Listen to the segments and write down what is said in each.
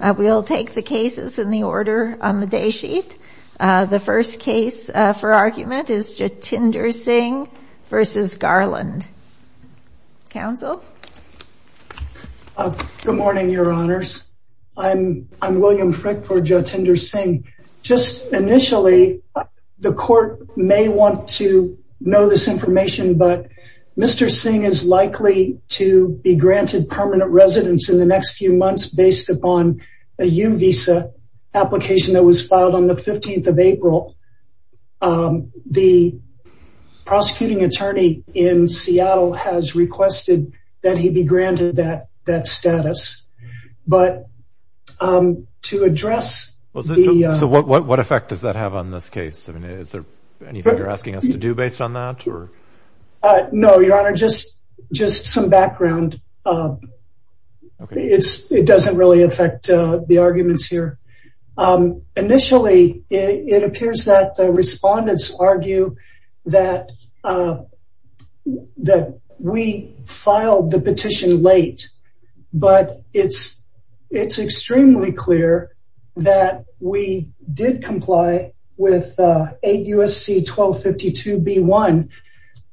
We'll take the cases in the order on the day sheet. The first case for argument is Jatinder Singh v. Garland. Counsel? Good morning, your honors. I'm William Frick for Jatinder Singh. Just initially, the court may want to know this information, but Mr. Singh is likely to be granted permanent residence in the next few months based upon a U-Visa application that was filed on the 15th of April. The prosecuting attorney in Seattle has requested that he be granted that status. But to address... So what effect does that have on this case? Anything you're asking us to do based on that? No, your honor, just some background. It doesn't really affect the arguments here. Initially, it appears that the respondents argue that we filed the petition late. But it's extremely clear that we did comply with 8 U.S.C. 1252 B-1,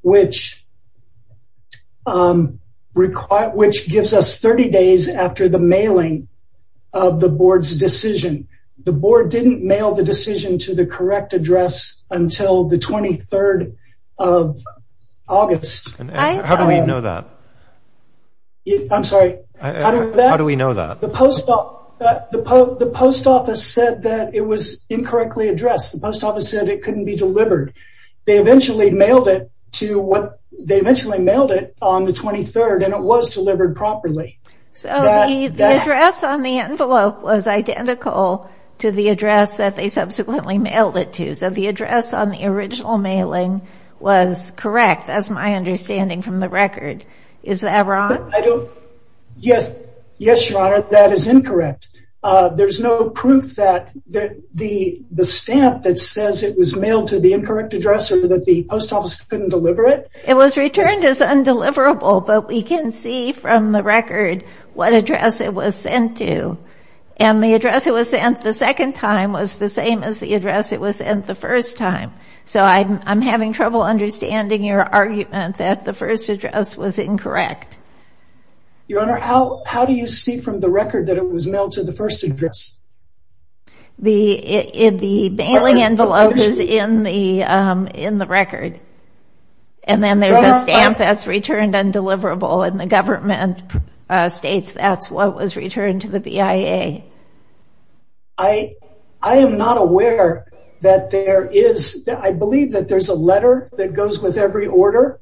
which gives us 30 days after the mailing of the board's decision. The board didn't mail the decision to the correct address until the 23rd of August. How do we know that? I'm sorry, how do we know that? The post office said that it was incorrectly addressed. The post office said it couldn't be delivered. They eventually mailed it on the 23rd, and it was delivered properly. So the address on the original mailing was correct, as my understanding from the record. Is that wrong? Yes, your honor, that is incorrect. There's no proof that the stamp that says it was mailed to the incorrect address or that the post office couldn't deliver it. It was returned as undeliverable, but we can see from the record what address it was sent to. And the address it was sent the second time was the same as the address it was sent the first time. So I'm having trouble understanding your argument that the first address was incorrect. Your honor, how do you see from the record that it was mailed to the first address? The mailing envelope is in the record, and then there's a stamp that's returned undeliverable, and the government states that's what was returned to the BIA. I am not aware that there is, I believe that there's a letter that goes with every order,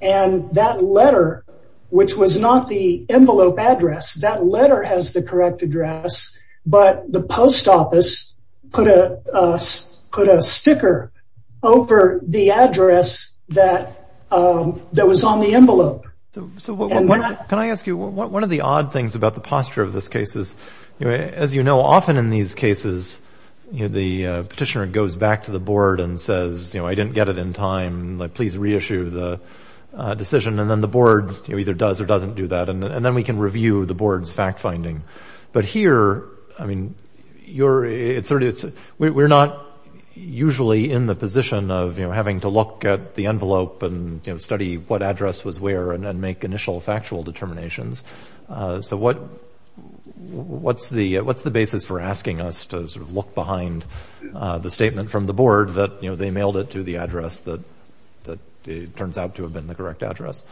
and that letter, which was not the envelope address, that letter has the correct address, but the post office put a sticker over the address that was on the envelope. So can I ask you, one of the odd things about the posture of this case is, as you know, often in these cases, you know, the petitioner goes back to the board and says, you know, I didn't get it in time, like please reissue the decision, and then the board either does or doesn't do that, and then we can review the board's fact-finding. But here, I mean, we're not usually in the position of, you know, having to look at the envelope and, you know, study what address was where, and then make initial factual determinations. So what's the basis for asking us to sort of look behind the statement from the board that, you know, they mailed it to the address that it turns out to have been the correct address?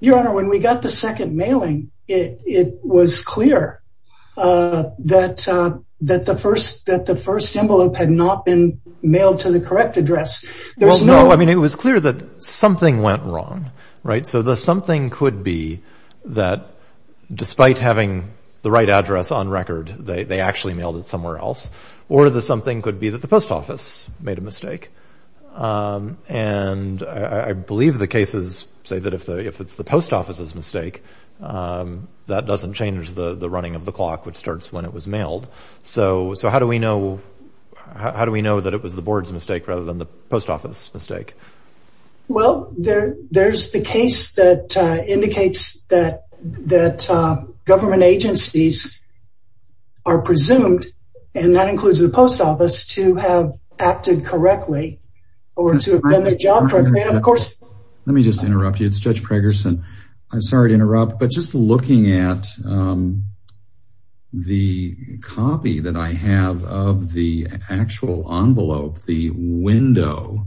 Your Honor, when we got the second mailing, it was clear that the first envelope had not been mailed to the correct address. Well, no, I mean, it was clear that something went wrong, right? So the something could be that despite having the right address on record, they actually mailed it somewhere else. Or the something could be that the post office made a mistake. And I believe the cases say that if it's the post office's mistake, that doesn't change the running of the clock, which starts when it was mailed. So how do we know that it was the board's mistake rather than the post office's mistake? Well, there's the case that indicates that government agencies are presumed, and that includes the post office, to have acted correctly, or to have done their job correctly. Let me just interrupt you. It's Judge Pregerson. I'm sorry to interrupt, but just looking at the copy that I have of the actual envelope, the window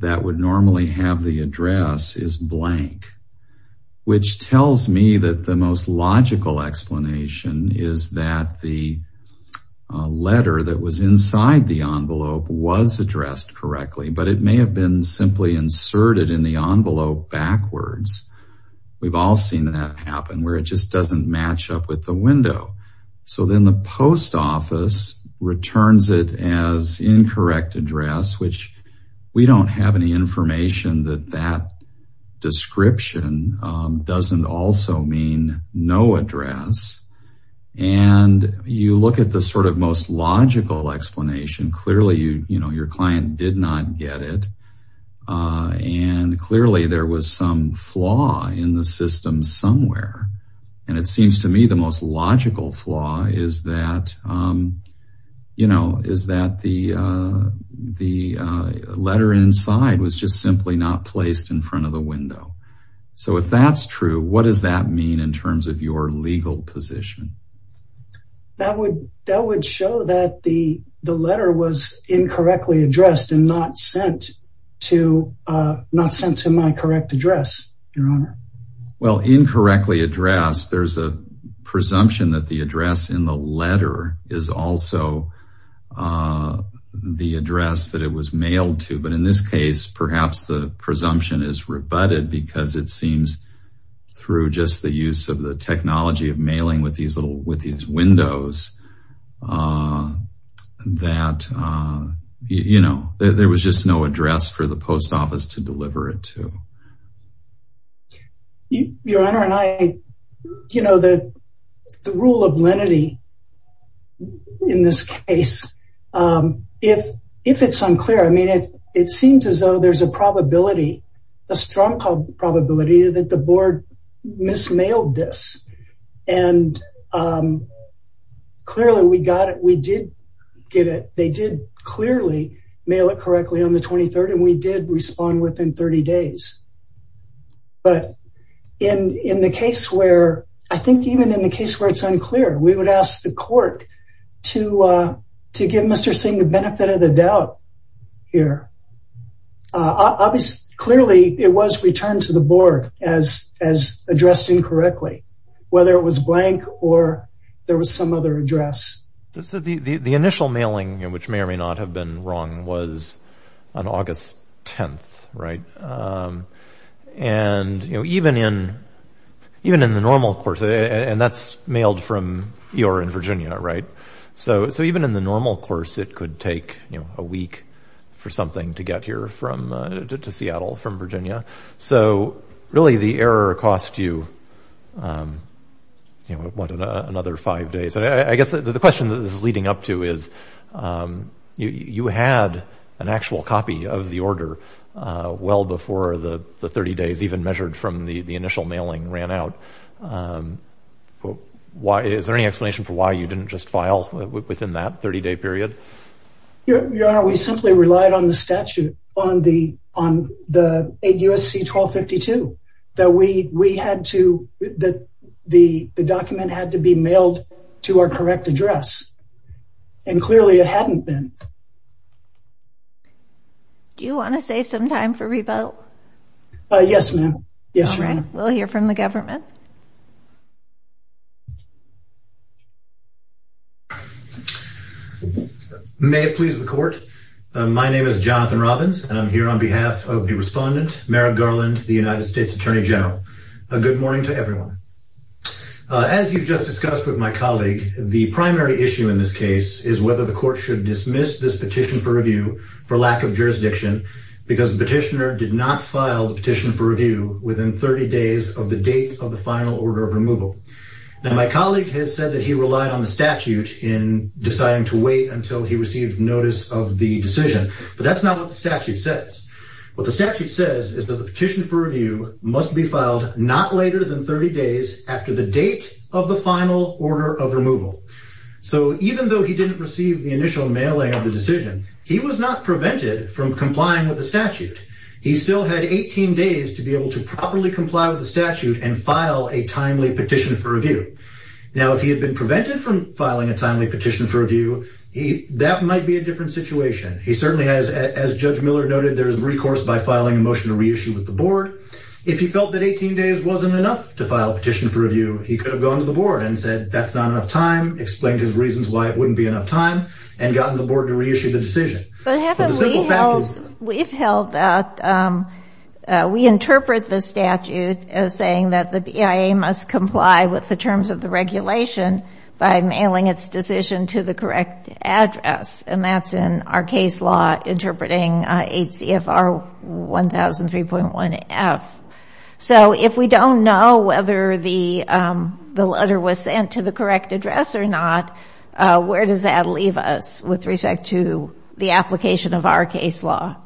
that would normally have the address is blank, which tells me that the most logical but it may have been simply inserted in the envelope backwards. We've all seen that happen, where it just doesn't match up with the window. So then the post office returns it as incorrect address, which we don't have any information that that description doesn't also mean no address. And you look at the sort of most logical explanation. Clearly, your client did not get it. And clearly there was some flaw in the system somewhere. And it seems to me the most logical flaw is that the letter inside was just simply not placed in front of the window. So if that's true, what does that mean in terms of your legal position? That would show that the letter was incorrectly addressed and not sent to my correct address, Your Honor. Well, incorrectly addressed, there's a presumption that the address in the letter is also the address that it was mailed to. But in this case, perhaps the presumption is rebutted because it seems through just the use of the technology of mailing with these little with these windows that, you know, there was just no address for the post office to deliver it to. Your Honor and I, you know, the rule of lenity in this case, if it's unclear, I mean, it seems as though there's a probability, a strong probability that the board mismailed this. And clearly we got it. We did get it. They did clearly mail it correctly on the 23rd. And we did respond within 30 days. But in the case where I think even in the case where it's unclear, we would ask the court to give Mr. Singh the benefit of the doubt here. Clearly it was returned to the board as addressed incorrectly, whether it was blank or there was some other address. The initial mailing, which may or may not have been wrong, was on August 10th, right? And even in the normal course, and that's mailed from Eora in Virginia, right? So even in the normal course, it could take a week for something to get here to Seattle from Virginia. So really the error cost you, you know, what, another five days. I guess the question that this is leading up to is you had an actual copy of the order well before the 30 days even measured from the initial mailing ran out. Is there any explanation for why you didn't just file within that 30-day period? Your Honor, we simply relied on the statute, on the USC 1252, that the document had to be mailed to our correct address. And clearly it hadn't been. Do you want to save some time for rebuttal? Yes, ma'am. Yes, Your Honor. We'll hear from the government. May it please the court. My name is Jonathan Robbins, and I'm here on behalf of the respondent, the United States Attorney General. A good morning to everyone. As you've just discussed with my colleague, the primary issue in this case is whether the court should dismiss this petition for review for lack of jurisdiction, because the petitioner did not file the petition for review within 30 days of the date of the final order of removal. Now, my colleague has said that he relied on the statute in deciding to wait until he received notice of the decision, but that's not what the statute says. What the statute says is that the petition for review must be filed not later than 30 days after the date of the final order of removal. So even though he didn't receive the initial mailing of the decision, he was not prevented from complying with the statute. He still had 18 days to be able to properly comply with the statute and file a timely petition for review. Now, if he had been prevented from filing a timely petition for review, that might be a recourse by filing a motion to reissue with the board. If he felt that 18 days wasn't enough to file a petition for review, he could have gone to the board and said that's not enough time, explained his reasons why it wouldn't be enough time, and gotten the board to reissue the decision. We've held that. We interpret the statute as saying that the BIA must comply with the terms of the regulation by mailing its decision to the correct address, and that's in our case law interpreting 8 CFR 1003.1 F. So if we don't know whether the letter was sent to the correct address or not, where does that leave us with respect to the application of our case law?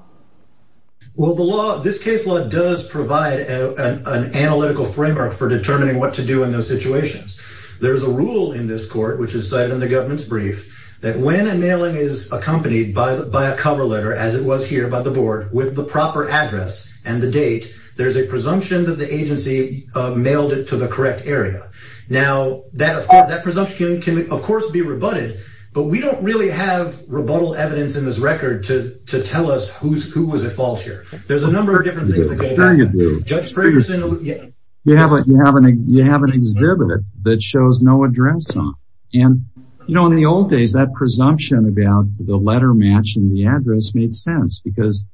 Well, this case law does provide an analytical framework for determining what to do in those situations. There's a rule in this court, which is cited in the government's brief, that when a mailing is accompanied by a cover letter, as it was here by the board, with the proper address and the date, there's a presumption that the agency mailed it to the correct area. Now, that presumption can, of course, be rebutted, but we don't really have rebuttal evidence in this record to tell us who was at fault here. There's a number of different things that go back. Judge Ferguson, you have an exhibit that shows no address on. And, you know, in the old days, that presumption about the letter matching the address made sense because,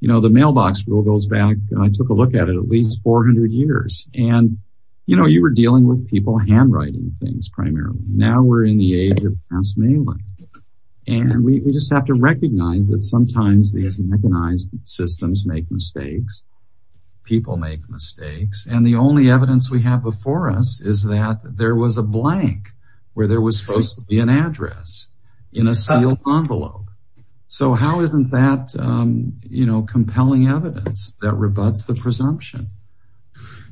you know, the mailbox rule goes back, I took a look at it, at least 400 years. And, you know, you were dealing with people handwriting things primarily. Now we're in the age of pass mailing. And we just have to recognize that sometimes these mechanized systems make mistakes. People make mistakes. And the only evidence we have before us is that there was a blank where there was supposed to be an address in a sealed envelope. So how isn't that, you know, compelling evidence that rebuts the presumption?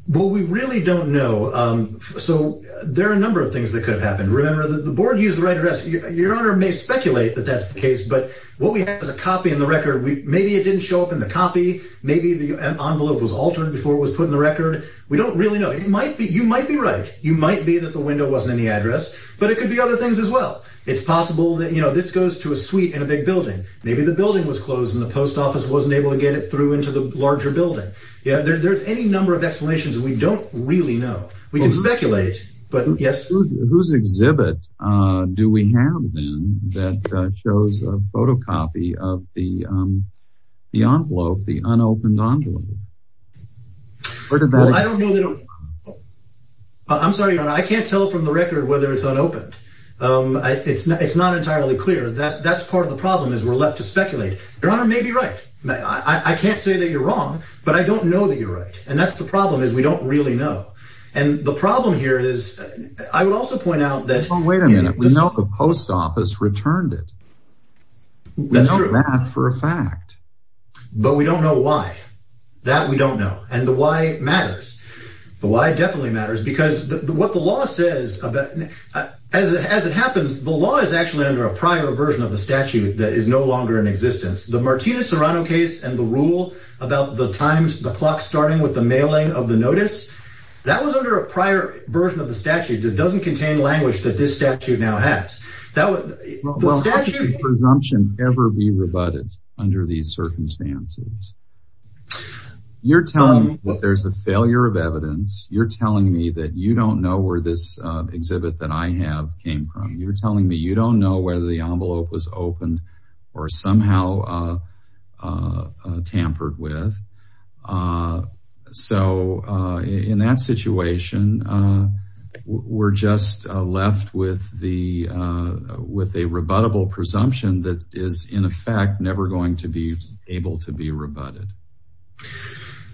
Well, we really don't know. So there are a number of things that could have happened. Remember that the board used the right address. Your Honor may speculate that that's the case, but what we have is a copy in the record. Maybe it didn't show up in the copy. Maybe the envelope was altered before it was put in the record. We don't really know. You might be right. You might be that the window wasn't in the address, but it could be other things as well. It's possible that, you know, this goes to a suite in a big building. Maybe the building was closed and the post office wasn't able to get it through into the larger building. Yeah, there's any number of explanations that we don't really know. We can speculate, but yes. Whose exhibit do we have then that shows a photocopy of the envelope, the unopened envelope? Well, I don't know. I'm sorry, Your Honor. I can't tell from the record whether it's unopened. It's not entirely clear. That's part of the problem is we're left to speculate. Your Honor may be right. I can't say that you're wrong, but I don't know that you're right. And that's the problem is we don't really know. And the problem here is, I would also point out that... Well, wait a minute. We know the post office returned it. That's true. We know that for a fact. But we don't know why. That we don't know. And the why matters. The why definitely matters because what the law says about... As it happens, the law is actually under a prior version of the statute that is no longer in existence. The Martinez-Serrano case and the rule about the times, the clock starting with the mailing of the notice, that was under a prior version of the statute that doesn't contain language that this statute now has. Well, how could presumption ever be rebutted under these circumstances? You're telling me that there's a failure of evidence. You're telling me that you don't know where this exhibit that I have came from. You're telling me you don't know whether the envelope was with a rebuttable presumption that is, in effect, never going to be able to be rebutted.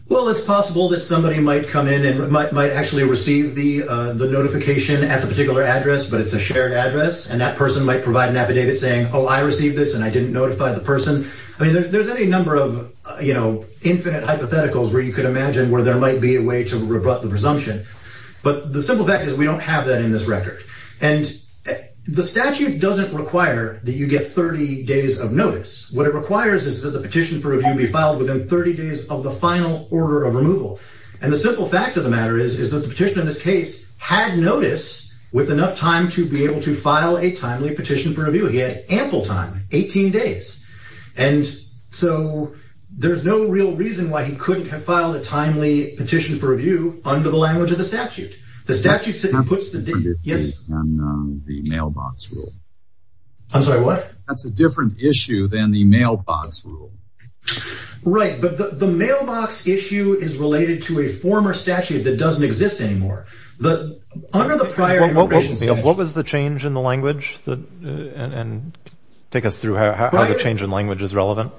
Well, it's possible that somebody might come in and might actually receive the notification at the particular address, but it's a shared address. And that person might provide an affidavit saying, oh, I received this and I didn't notify the person. I mean, there's any number of infinite hypotheticals where you could imagine where there might be a way to rebut the presumption. But the simple fact is, we don't have that in this record. And the statute doesn't require that you get 30 days of notice. What it requires is that the petition for review be filed within 30 days of the final order of removal. And the simple fact of the matter is, is that the petition in this case had notice with enough time to be able to file a timely petition for review. He had ample time, 18 days. And so there's no real reason why he couldn't have filed a timely petition for the statute. That's a different issue than the mailbox rule. Right. But the mailbox issue is related to a former statute that doesn't exist anymore. What was the change in the language? And take us through how the change in language is relevant.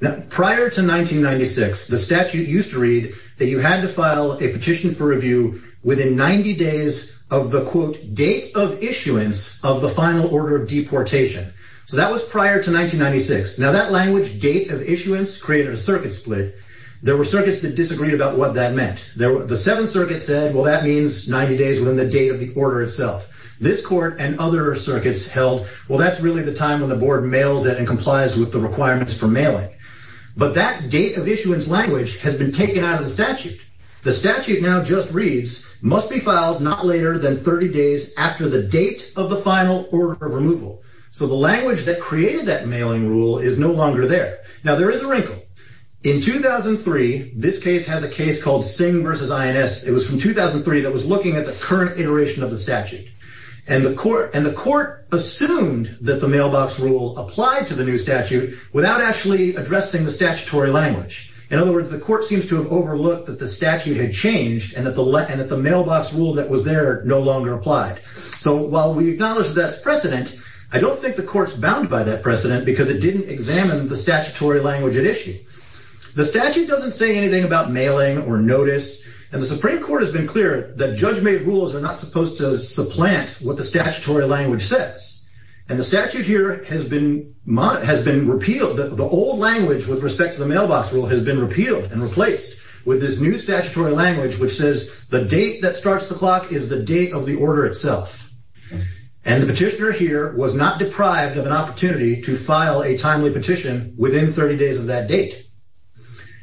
Now, prior to 1996, the statute used to read that you had to file a petition for review within 90 days of the quote date of issuance of the final order of deportation. So that was prior to 1996. Now that language date of issuance created a circuit split. There were circuits that disagreed about what that meant. The seventh circuit said, well, that means 90 days within the date of the order itself. This court and other circuits held, well, that's really the time when the board mails it and complies with the requirements for mailing. But that date of issuance language has been taken out of the statute. The statute now just reads, must be filed not later than 30 days after the date of the final order of removal. So the language that created that mailing rule is no longer there. Now there is a wrinkle. In 2003, this case has a case called Singh versus INS. It was from 2003 that was looking at the current iteration of the statute. And the court assumed that the mailbox rule applied to the new statute without actually addressing the statutory language. In other words, the court seems to have overlooked that the statute had changed and that the mailbox rule that was there no longer applied. So while we acknowledge that precedent, I don't think the court's bound by that precedent because it didn't examine the statutory language at issue. The statute doesn't say anything about mailing or notice. And the Supreme Court has been clear that judge-made are not supposed to supplant what the statutory language says. And the statute here has been repealed. The old language with respect to the mailbox rule has been repealed and replaced with this new statutory language which says the date that starts the clock is the date of the order itself. And the petitioner here was not deprived of an opportunity to file a timely petition within 30 days of that date.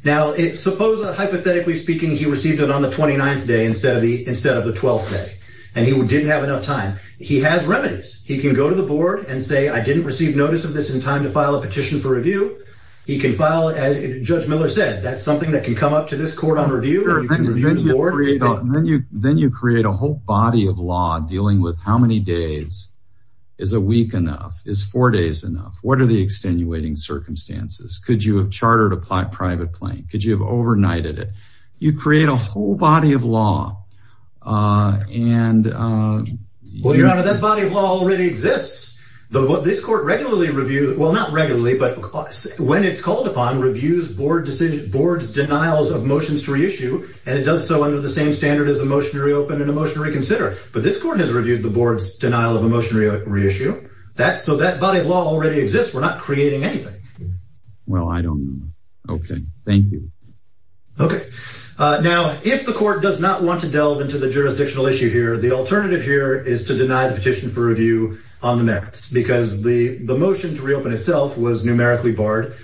Now, hypothetically speaking, he received it on the 29th day instead of the 12th day. And he didn't have enough time. He has remedies. He can go to the board and say, I didn't receive notice of this in time to file a petition for review. He can file, as Judge Miller said, that's something that can come up to this court on review. Then you create a whole body of law dealing with how many days is a week enough? Is four days enough? What are the extenuating circumstances? Could you have chartered a private plane? Could a whole body of law be created? Well, Your Honor, that body of law already exists. This court regularly reviews, well, not regularly, but when it's called upon, reviews board's denials of motions to reissue. And it does so under the same standard as a motion to reopen and a motion to reconsider. But this court has reviewed the board's denial of a motion to reissue. So that body of law already exists. We're not creating anything. Well, I don't know. Okay. Thank you. Okay. Now, if the court does not want to delve into the jurisdictional issue here, the alternative here is to deny the petition for review on the next, because the motion to reopen itself was numerically barred.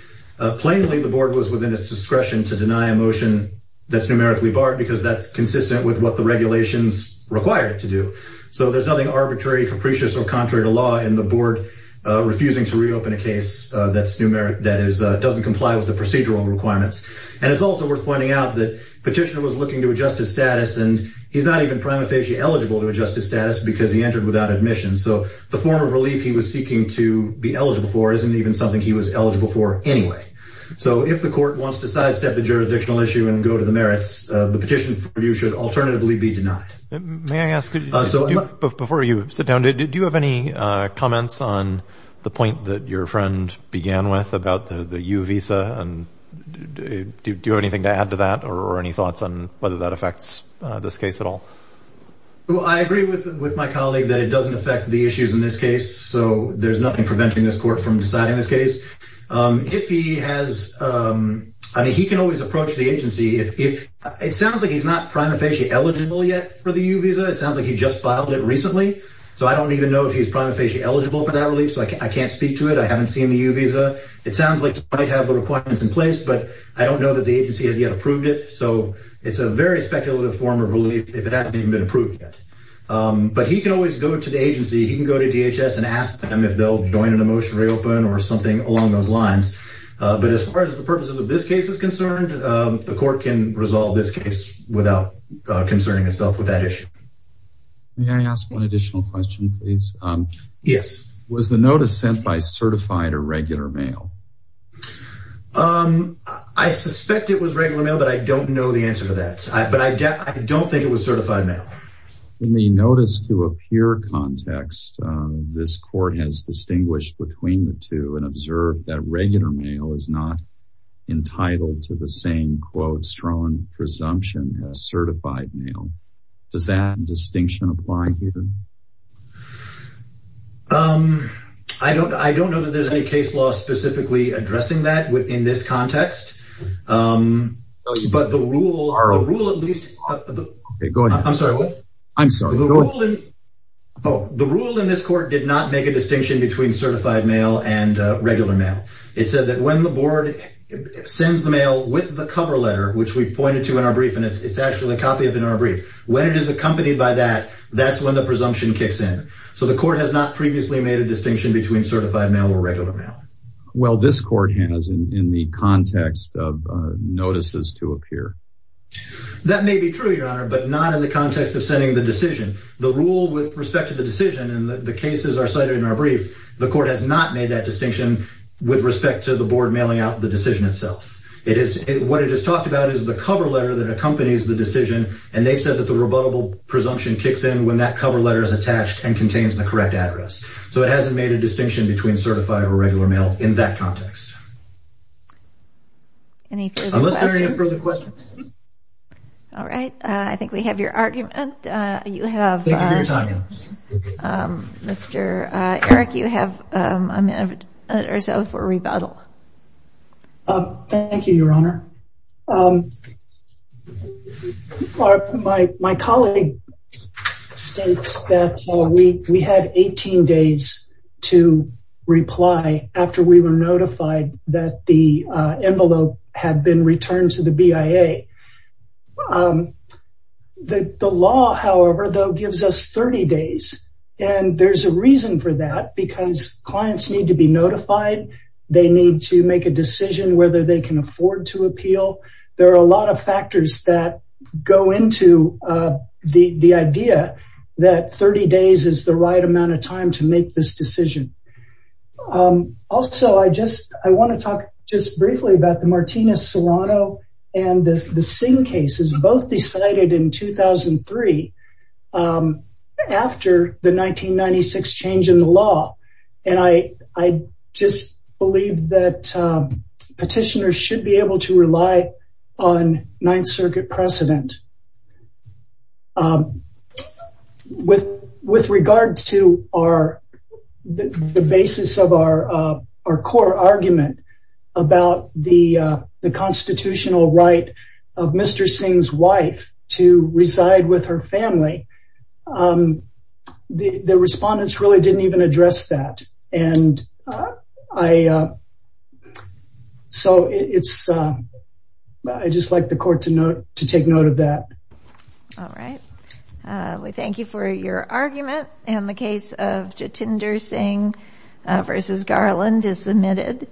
Plainly, the board was within its discretion to deny a motion that's numerically barred because that's consistent with what the regulations require it to do. So there's nothing arbitrary, capricious, or contrary to law in the board refusing to reopen a case that doesn't comply with the procedural requirements. And it's also worth pointing out that the petitioner was looking to adjust his status, and he's not even prima facie eligible to adjust his status because he entered without admission. So the form of relief he was seeking to be eligible for isn't even something he was eligible for anyway. So if the court wants to sidestep the jurisdictional issue and go to the merits, the petition for review should alternatively be denied. May I ask, before you sit down, do you have any comments on the point that your friend began with about the U visa? And do you have anything to add to that or any thoughts on whether that affects this case at all? Well, I agree with my colleague that it doesn't affect the issues in this case. So there's nothing preventing this court from deciding this case. If he has, I mean, he can always approach the agency. It sounds like he's not prima facie eligible yet for the U visa. It sounds like he just filed it recently. So I don't even know if he's prima facie eligible for that relief. So I can't speak to it. I haven't seen the U visa. It sounds like he might have the requirements in place, but I don't know that the agency has yet approved it. So it's a very speculative form of relief if it hasn't even been approved yet. But he can always go to the agency. He can go to DHS and ask them if they'll join in a motion to reopen or something along those lines. But as far as the purposes of this case is concerned, the court can resolve this case without concerning itself with that issue. May I ask one additional question, please? Yes. Was the notice sent by certified or regular mail? I suspect it was regular mail, but I don't know the answer to that. But I don't think it was certified mail. In the notice to appear context, this court has distinguished between the two and observed that regular mail is not entitled to the same quote strong presumption as certified mail. Does that distinction apply here? I don't know that there's any case law specifically addressing that within this context. But the rule in this court did not make a distinction between certified mail and regular mail. It said that when the board sends the mail with the cover letter, which we pointed to in our brief, and it's actually a copy of it in our brief, when it is accompanied by that, that's when the presumption kicks in. So the court has not previously made a distinction between certified mail or regular mail. Well, this court has in the context of notices to appear. That may be true, your honor, but not in the context of sending the decision, the rule with respect to the decision and the cases are cited in our brief. The court has not made that distinction with respect to the board mailing out the decision itself. It is what it is talked about is the cover letter that accompanies the decision. And they've said that the rebuttable presumption kicks in when that cover letter is attached and in that context. Any further questions? All right. I think we have your argument. Mr. Eric, you have a minute or so for rebuttal. Thank you, your honor. All right. My colleague states that we had 18 days to reply after we were notified that the envelope had been returned to the BIA. The law, however, though, gives us 30 days. And there's a reason for that because clients need to be notified. They need to make a decision whether they can afford to appeal. There are a lot of factors that go into the idea that 30 days is the right amount of time to make this decision. Also, I want to talk just briefly about the Martinez-Serrano and the Singh cases, both decided in 2003 after the 1996 change in the law. And I just believe that petitioners should be able to rely on Ninth Circuit precedent. With regard to the basis of our core argument about the constitutional right of Mr. Singh's to reside with her family, the respondents really didn't even address that. And so I'd just like the court to take note of that. All right. We thank you for your argument. And the case of Jitinder Singh v. Garland is submitted.